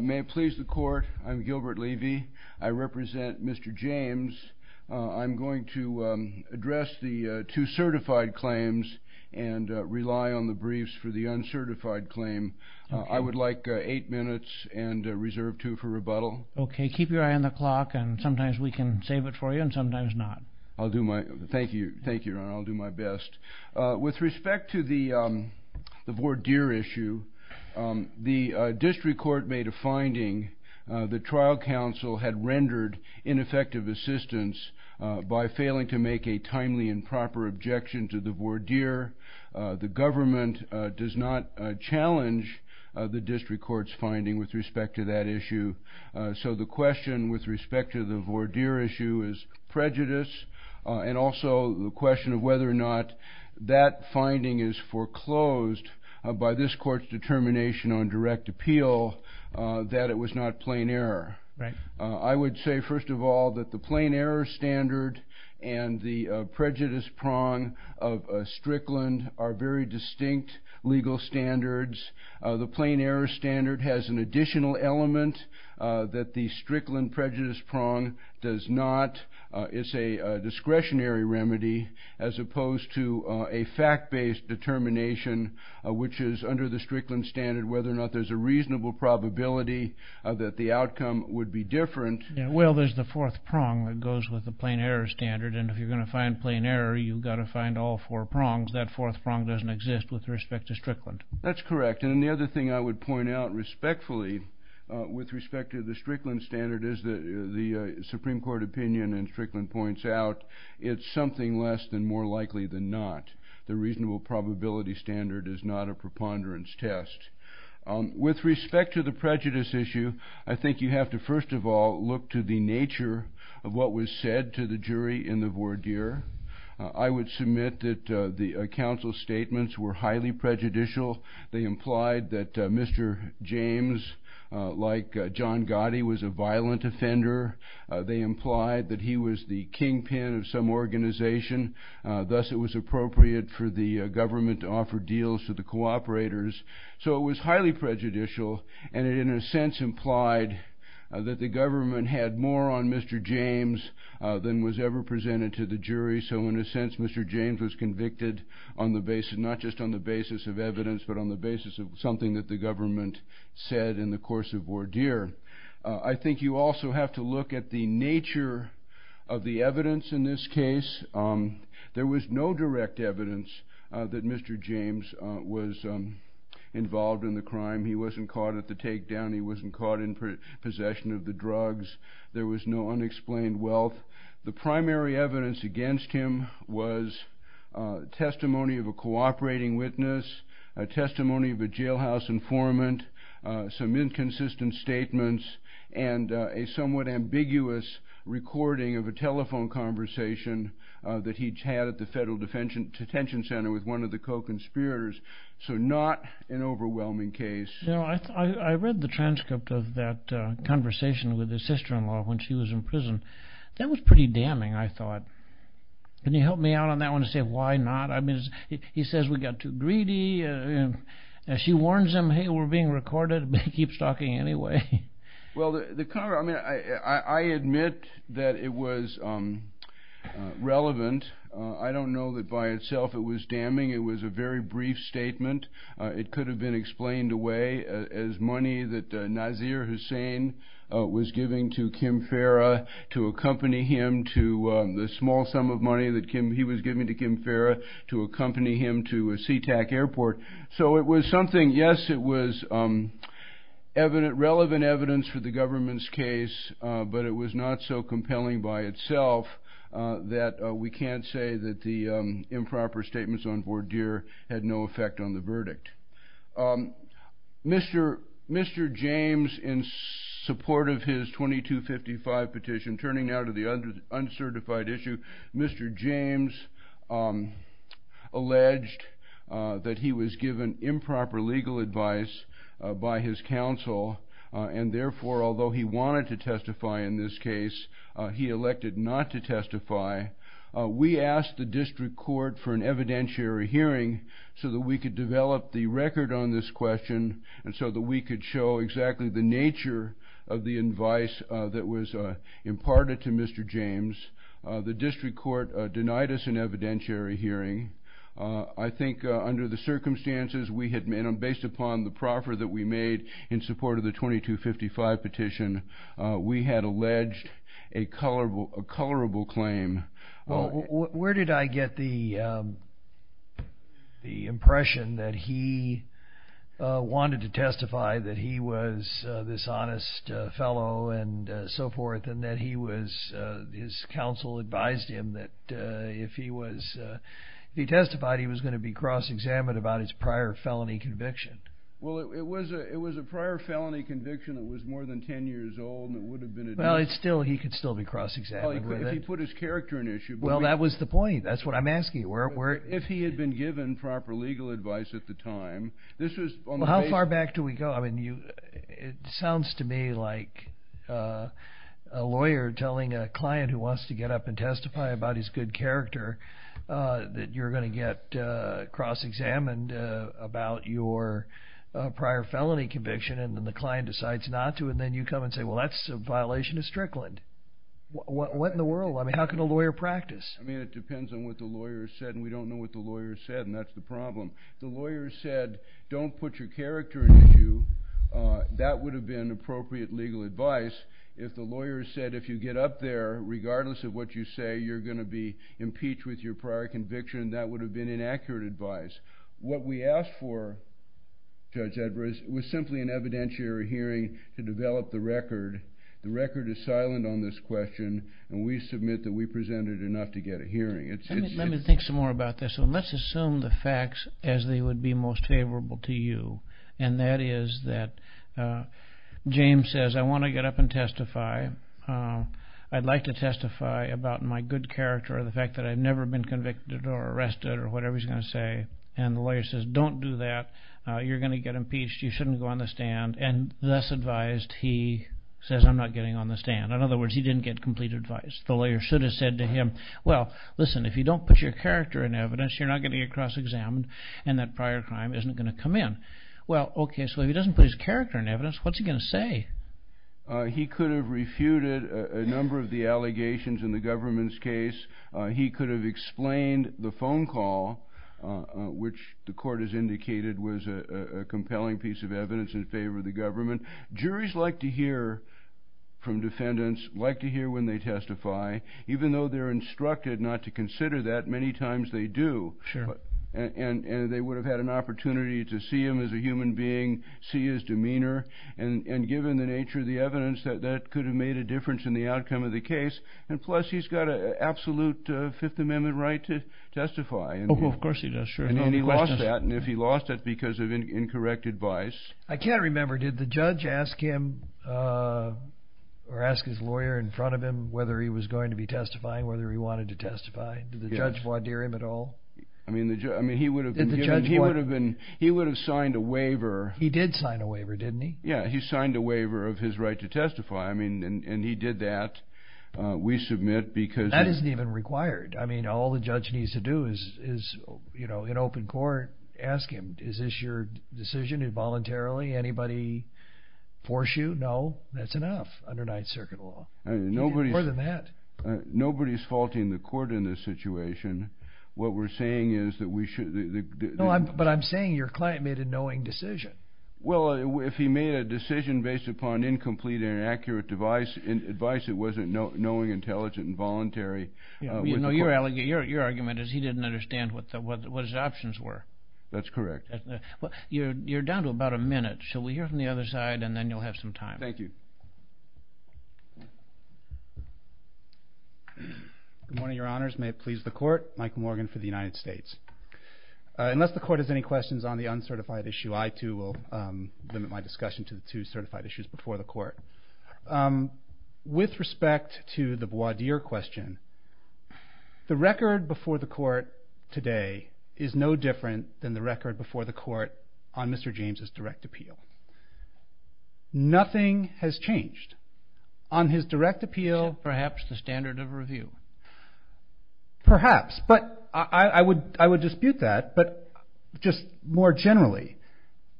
May it please the court, I'm Gilbert Levy. I represent Mr. James. I'm going to address the two certified claims and rely on the briefs for the uncertified claim. I would like eight minutes and reserve two for rebuttal. Okay, keep your eye on the clock and sometimes we can save it for you and sometimes not. I'll do my, thank you, thank you, I'll do my best. With respect to the voir dire issue, the district court made a finding that trial counsel had rendered ineffective assistance by failing to make a timely and proper objection to the voir dire. The government does not challenge the district court's finding with respect to that issue. So the question with respect to the voir dire issue is prejudice and also the question of whether or not that finding is foreclosed by this court's determination on direct appeal that it was not plain error. I would say first of all that the plain error standard and the prejudice prong of Strickland are very distinct legal standards. The plain error standard has an additional element that the Strickland prejudice prong does not. It's a discretionary remedy as opposed to a fact-based determination which is under the Strickland standard whether or not there's a reasonable probability that the outcome would be different. Well, there's the fourth prong that goes with the plain error standard and if you're going to find plain error you've got to find all four prongs. That fourth prong doesn't exist with respect to Strickland. That's correct. And the other thing I would point out respectfully with respect to the Strickland standard is that the Supreme Court opinion in Strickland points out it's something less than more likely than not. The reasonable probability standard is not a preponderance test. With respect to the prejudice issue, I think you have to first of all look to the nature of what was said to the jury in the voir dire. I would submit that the counsel's statements were highly prejudicial. They implied that Mr. James, like John Gotti, was a violent offender. They implied that he was the kingpin of some organization, thus it was appropriate for the government to offer deals to the cooperators. So it was highly prejudicial and it in a sense implied that the government had more on Mr. James than was ever presented to the jury. So in a sense Mr. James was convicted not just on the basis of evidence but on the basis of something that the government said in the course of voir dire. I think you also have to look at the nature of the evidence in this case. There was no direct evidence that Mr. James was involved in the crime. He wasn't caught at the takedown. He wasn't caught in possession of the drugs. There was no unexplained wealth. The primary evidence against him was testimony of a cooperating witness, a testimony of a jailhouse informant, some inconsistent statements, and a somewhat ambiguous recording of a telephone conversation that he'd had at the federal detention center with one of the co-conspirators. So not an overwhelming case. I read the transcript of that conversation with his sister-in-law when she was in prison. That was pretty damning, I thought. Can you help me out on that one and say why not? He says we got too greedy. She warns him, hey, we're being recorded, but he keeps talking anyway. Well, I admit that it was relevant. I don't know that by itself it was damning. It was a very brief statement. It could have been explained away as money that Nazir Hussain was giving to Kim Farah to accompany him to the small sum of money that he was giving to Kim Farah to accompany him to a Sea-Tac airport. So it was something, yes, it was relevant evidence for the government's case, but it was not so compelling by itself that we can't say that the improper statements on voir dire had no effect on the verdict. Mr. James, in support of his 2255 petition, turning now to the uncertified issue, Mr. James alleged that he was given improper legal advice by his counsel, and therefore, although he wanted to testify in this case, he elected not to testify. We asked the district court for an evidentiary hearing so that we could develop the record on this question and so that we could show exactly the nature of the advice that was imparted to Mr. James. The district court denied us an evidentiary hearing. I think under the circumstances, based upon the proffer that we made in support of the 2255 petition, we had alleged a colorable claim. Well, where did I get the impression that he wanted to testify, that he was this honest fellow and so forth, and that his counsel advised him that if he testified, he was going to be cross-examined about his prior felony conviction? Well, it was a prior felony conviction that was more than 10 years old, and it would have been addressed. Well, he could still be cross-examined with it. Well, if he put his character in issue. Well, that was the point. That's what I'm asking. If he had been given proper legal advice at the time, this was on the basis... Well, how far back do we go? I mean, it sounds to me like a lawyer telling a client who wants to get up and testify about his good character that you're going to get cross-examined about your prior felony conviction, and then the client decides not to, and then you come and say, well, that's a violation of Strickland. What in the world? I mean, how can a lawyer practice? I mean, it depends on what the lawyer said, and we don't know what the lawyer said, and that's the problem. If the lawyer said, don't put your character in issue, that would have been appropriate legal advice. If the lawyer said, if you get up there, regardless of what you say, you're going to be impeached with your prior conviction, that would have been inaccurate advice. What we asked for, Judge Edwards, was simply an evidentiary hearing to develop the record. The record is silent on this question, and we submit that we presented enough to get a hearing. Let me think some more about this, and let's assume the facts as they would be most favorable to you, and that is that James says, I want to get up and testify. I'd like to testify about my good character or the fact that I've never been convicted or arrested or whatever he's going to say, and the lawyer says, don't do that. You're going to get impeached. You shouldn't go on the stand, and thus advised, he says, I'm not getting on the stand. In other words, he didn't get complete advice. The lawyer should have said to him, well, listen, if you don't put your character in evidence, you're not going to get cross-examined, and that prior crime isn't going to come in. Well, okay, so if he doesn't put his character in evidence, what's he going to say? He could have refuted a number of the allegations in the government's case. He could have explained the phone call, which the court has indicated was a compelling piece of evidence in favor of the government. Juries like to hear from defendants, like to hear when they testify. Even though they're instructed not to consider that, many times they do, and they would have had an opportunity to see him as a human being, see his demeanor, and given the nature of the evidence, that could have made a difference in the outcome of the case. And plus, he's got an absolute Fifth Amendment right to testify. Of course he does, sure. And he lost that, and if he lost it, because of incorrect advice. I can't remember, did the judge ask him, or ask his lawyer in front of him, whether he was going to be testifying, whether he wanted to testify? Did the judge voir dire him at all? I mean, he would have signed a waiver. He did sign a waiver, didn't he? Yeah, he signed a waiver of his right to testify. And he did that. That isn't even required. I mean, all the judge needs to do is, in open court, ask him, is this your decision involuntarily? Anybody force you? No, that's enough under Ninth Circuit law. More than that. Nobody's faulting the court in this situation. What we're saying is that we should... But I'm saying your client made a knowing decision. Well, if he made a decision based upon incomplete and inaccurate advice, it wasn't knowing, intelligent, and voluntary. You know, your argument is he didn't understand what his options were. That's correct. You're down to about a minute. Shall we hear from the other side, and then you'll have some time. Thank you. Good morning, Your Honors. May it please the Court. Mike Morgan for the United States. Unless the Court has any questions on the uncertified issue, I, too, will limit my discussion to the two certified issues before the Court. With respect to the Bois d'Ire question, the record before the Court today is no different than the record before the Court on Mr. James' direct appeal. Nothing has changed. On his direct appeal... Except perhaps the standard of review. Perhaps. But I would dispute that. But just more generally,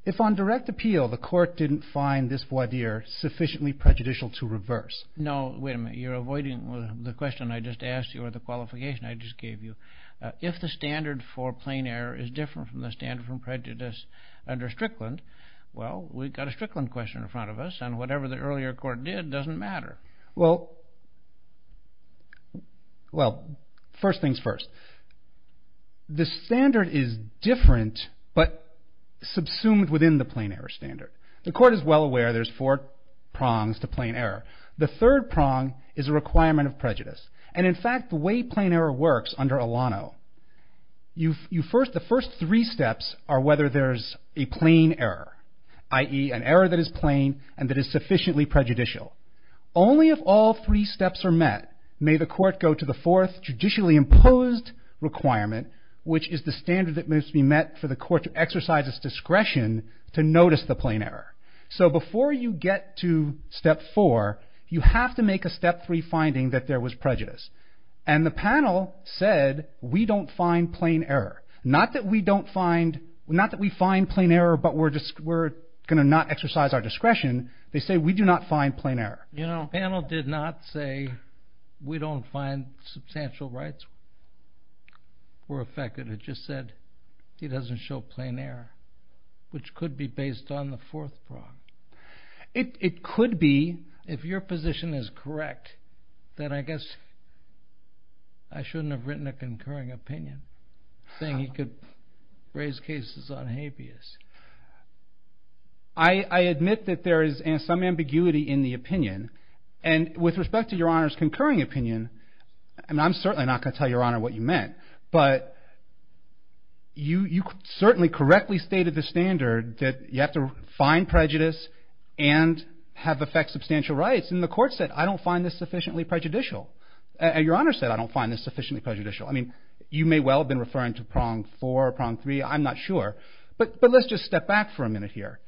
if on direct appeal the Court didn't find this Bois d'Ire sufficiently prejudicial to reverse... No, wait a minute. You're avoiding the question I just asked you or the qualification I just gave you. If the standard for plain error is different from the standard for prejudice under Strickland, well, we've got a Strickland question in front of us, and whatever the earlier Court did doesn't matter. Well, first things first. The standard is different but subsumed within the plain error standard. The Court is well aware there's four prongs to plain error. The third prong is a requirement of prejudice. And, in fact, the way plain error works under Alano, the first three steps are whether there's a plain error, i.e., an error that is plain and that is sufficiently prejudicial. Only if all three steps are met may the Court go to the fourth judicially imposed requirement, which is the standard that must be met for the Court to exercise its discretion to notice the plain error. So before you get to step four, you have to make a step three finding that there was prejudice. And the panel said, we don't find plain error. Not that we find plain error but we're going to not exercise our discretion. They say we do not find plain error. The panel did not say we don't find substantial rights were affected. It just said it doesn't show plain error, which could be based on the fourth prong. It could be. If your position is correct, then I guess I shouldn't have written a concurring opinion, saying you could raise cases on habeas. I admit that there is some ambiguity in the opinion. And with respect to Your Honor's concurring opinion, and I'm certainly not going to tell Your Honor what you meant, but you certainly correctly stated the standard that you have to find prejudice and have affect substantial rights. And the Court said, I don't find this sufficiently prejudicial. And Your Honor said, I don't find this sufficiently prejudicial. I mean, you may well have been referring to prong four or prong three. I'm not sure. But let's just step back for a minute here.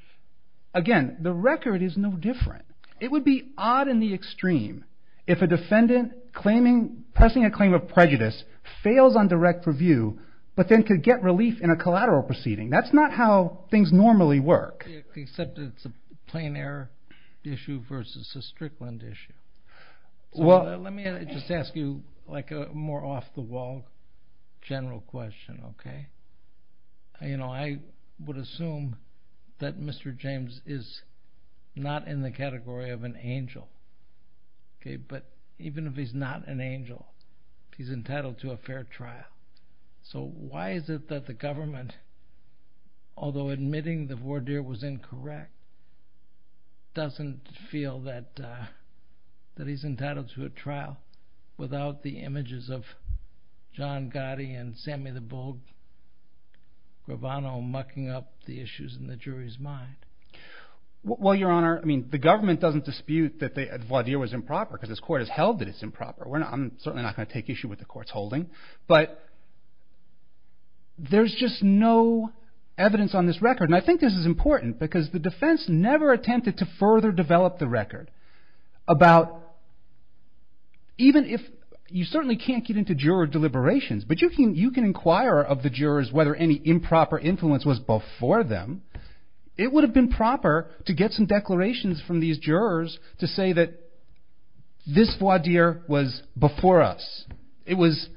Again, the record is no different. It would be odd in the extreme if a defendant pressing a claim of prejudice fails on direct review but then could get relief in a collateral proceeding. That's not how things normally work. Except it's a plain error issue versus a Strickland issue. Let me just ask you a more off-the-wall general question. I would assume that Mr. James is not in the category of an angel. But even if he's not an angel, he's entitled to a fair trial. So why is it that the government, although admitting the voir dire was incorrect, doesn't feel that he's entitled to a trial without the images of John Gotti and Sammy the Bull Gravano mucking up the issues in the jury's mind? Well, Your Honor, the government doesn't dispute that the voir dire was improper because this Court has held that it's improper. I'm certainly not going to take issue with the Court's holding. But there's just no evidence on this record. And I think this is important because the defense never attempted to further develop the record about... You certainly can't get into juror deliberations, but you can inquire of the jurors whether any improper influence was before them. It would have been proper to get some declarations from these jurors to say that this voir dire was before us. It was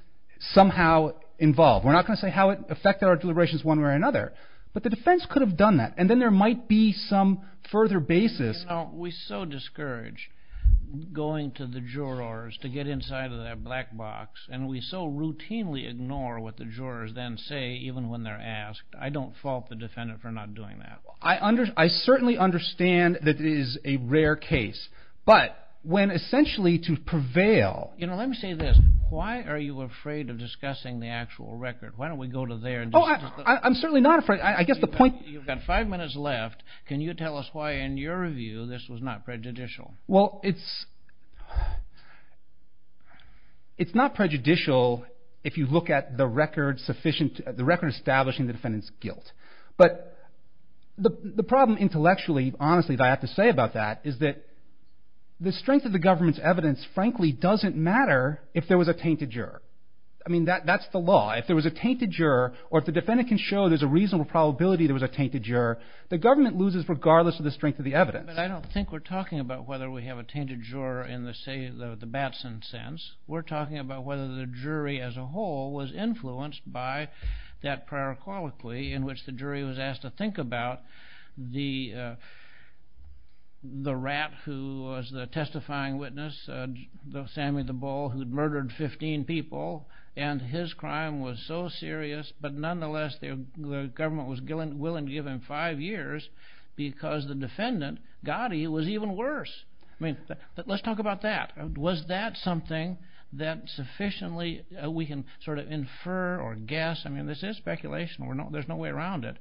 somehow involved. We're not going to say how it affected our deliberations one way or another, but the defense could have done that. And then there might be some further basis. We so discourage going to the jurors to get inside of that black box, and we so routinely ignore what the jurors then say, even when they're asked. I don't fault the defendant for not doing that. I certainly understand that it is a rare case. But when essentially to prevail... Let me say this. Why are you afraid of discussing the actual record? Why don't we go to there? I'm certainly not afraid. You've got five minutes left. Can you tell us why, in your view, this was not prejudicial? Well, it's not prejudicial if you look at the record establishing the defendant's guilt. But the problem intellectually, honestly, that I have to say about that is that the strength of the government's evidence frankly doesn't matter if there was a tainted juror. I mean, that's the law. If there was a tainted juror or if the defendant can show there's a reasonable probability there was a tainted juror, the government loses regardless of the strength of the evidence. But I don't think we're talking about whether we have a tainted juror in the Batson sense. We're talking about whether the jury as a whole was influenced by that prior colloquy in which the jury was asked to think about the rat who was the testifying witness, Sammy the Bull, who had murdered 15 people, and his crime was so serious, but nonetheless the government was willing to give him five years because the defendant, Gotti, was even worse. I mean, let's talk about that. Was that something that sufficiently we can sort of infer or guess? I mean, this is speculation. There's no way around it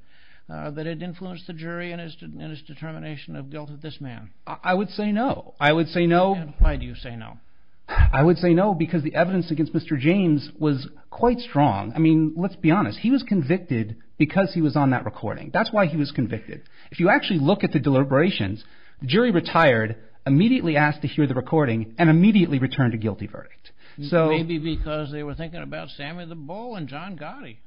that it influenced the jury in its determination of guilt of this man. I would say no. I would say no. Why do you say no? I would say no because the evidence against Mr. James was quite strong. I mean, let's be honest. He was convicted because he was on that recording. That's why he was convicted. If you actually look at the deliberations, the jury retired, immediately asked to hear the recording, and immediately returned a guilty verdict. Maybe because they were thinking about Sammy the Bull and John Gotti.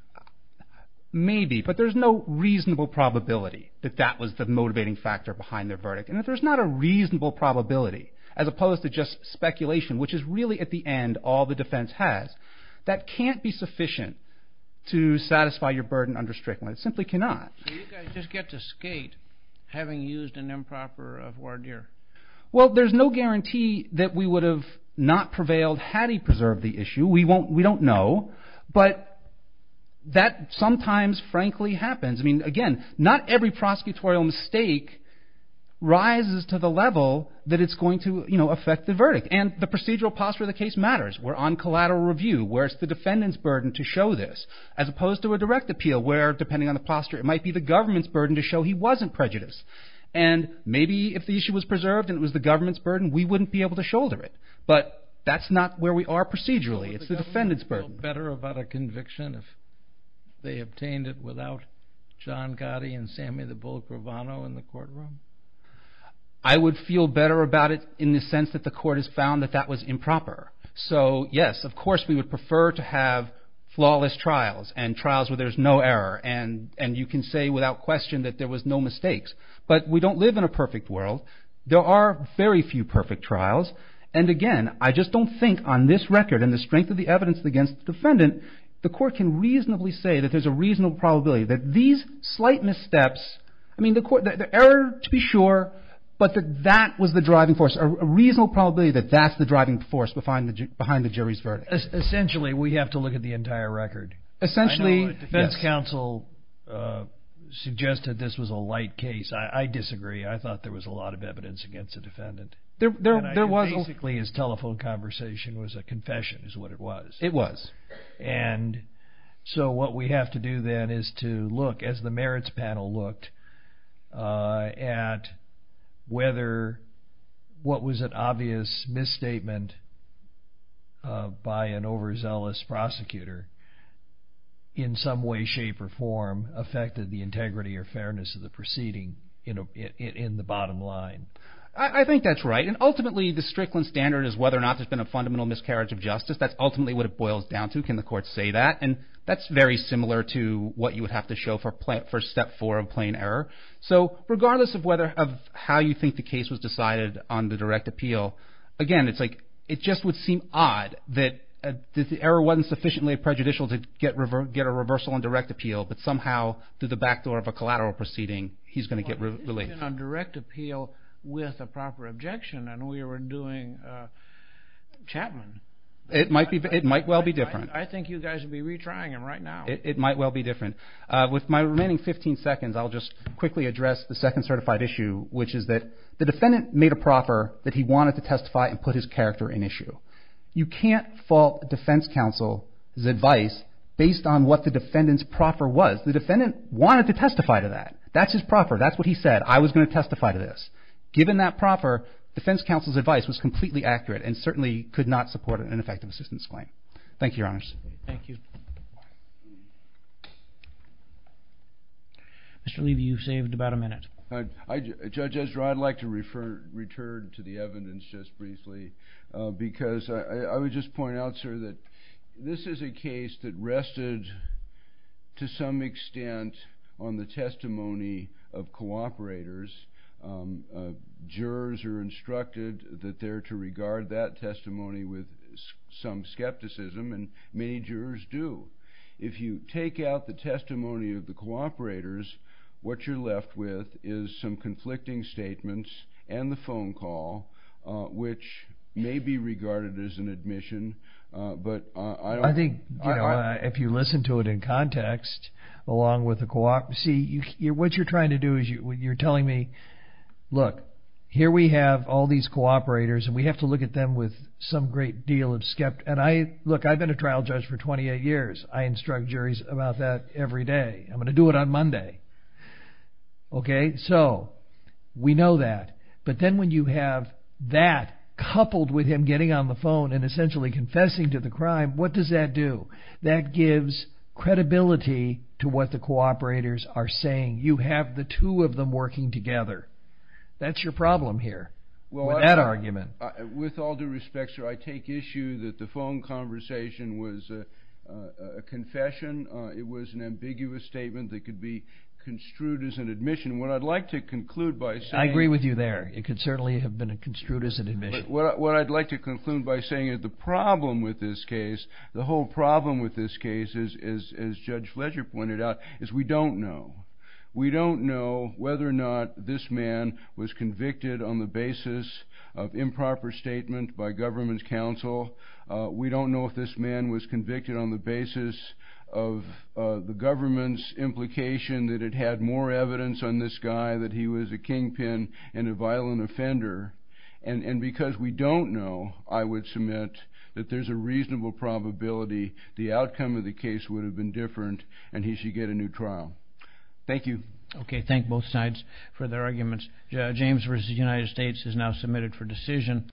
Maybe, but there's no reasonable probability that that was the motivating factor behind their verdict. And if there's not a reasonable probability as opposed to just speculation, which is really at the end all the defense has, that can't be sufficient to satisfy your burden under Strickland. It simply cannot. So you guys just get to skate having used an improper voir dire. Well, there's no guarantee that we would have not prevailed had he preserved the issue. We don't know, but that sometimes frankly happens. I mean, again, not every prosecutorial mistake rises to the level that it's going to affect the verdict. And the procedural posture of the case matters. We're on collateral review where it's the defendant's burden to show this as opposed to a direct appeal where, depending on the posture, it might be the government's burden to show he wasn't prejudiced. And maybe if the issue was preserved and it was the government's burden, we wouldn't be able to shoulder it. It's the defendant's burden. Would you feel better about a conviction if they obtained it without John Gotti and Sammy the Bullet Gravano in the courtroom? I would feel better about it in the sense that the court has found that that was improper. So, yes, of course we would prefer to have flawless trials and trials where there's no error. And you can say without question that there was no mistakes. But we don't live in a perfect world. There are very few perfect trials. And, again, I just don't think on this record and the strength of the evidence against the defendant, the court can reasonably say that there's a reasonable probability that these slight missteps, I mean, the error to be sure, but that that was the driving force, a reasonable probability that that's the driving force behind the jury's verdict. Essentially, we have to look at the entire record. Essentially, yes. The defense counsel suggested this was a light case. I disagree. I thought there was a lot of evidence against the defendant. Basically, his telephone conversation was a confession is what it was. It was. And so what we have to do then is to look, as the merits panel looked, at whether what was an obvious misstatement by an overzealous prosecutor in some way, shape, or form affected the integrity or fairness of the proceeding in the bottom line. I think that's right. And ultimately, the Strickland standard is whether or not there's been a fundamental miscarriage of justice. That's ultimately what it boils down to. Can the court say that? And that's very similar to what you would have to show for step four of plain error. So regardless of how you think the case was decided on the direct appeal, again, it's like it just would seem odd that the error wasn't sufficiently prejudicial to get a reversal on direct appeal, but somehow through the back door of a collateral proceeding, he's going to get released. He's going to get released on direct appeal with a proper objection. And we were doing Chapman. It might well be different. I think you guys would be retrying him right now. It might well be different. With my remaining 15 seconds, I'll just quickly address the second certified issue, which is that the defendant made a proffer that he wanted to testify and put his character in issue. You can't fault defense counsel's advice based on what the defendant's proffer was. The defendant wanted to testify to that. That's his proffer. That's what he said. I was going to testify to this. Given that proffer, defense counsel's advice was completely accurate and certainly could not support an ineffective assistance claim. Thank you, Your Honors. Thank you. Mr. Levy, you've saved about a minute. Judge Ezra, I'd like to return to the evidence just briefly because I would just point out, sir, that this is a case that rested to some extent on the testimony of cooperators. Jurors are instructed that they're to regard that testimony with some skepticism, and many jurors do. If you take out the testimony of the cooperators, what you're left with is some conflicting statements and the phone call, which may be regarded as an admission. I think if you listen to it in context, along with the cooperation, what you're trying to do is you're telling me, look, here we have all these cooperators and we have to look at them with some great deal of skepticism. Look, I've been a trial judge for 28 years. I instruct juries about that every day. I'm going to do it on Monday. Okay, so we know that. But then when you have that coupled with him getting on the phone and essentially confessing to the crime, what does that do? That gives credibility to what the cooperators are saying. You have the two of them working together. That's your problem here with that argument. With all due respect, sir, I take issue that the phone conversation was a confession. It was an ambiguous statement that could be construed as an admission. What I'd like to conclude by saying – I agree with you there. It could certainly have been construed as an admission. What I'd like to conclude by saying is the problem with this case, the whole problem with this case, as Judge Fletcher pointed out, is we don't know. We don't know whether or not this man was convicted on the basis of improper statement by government counsel. We don't know if this man was convicted on the basis of the government's implication that it had more evidence on this guy that he was a kingpin and a violent offender. And because we don't know, I would submit that there's a reasonable probability the outcome of the case would have been different and he should get a new trial. Thank you. Okay, thank both sides for their arguments. James v. United States is now submitted for decision.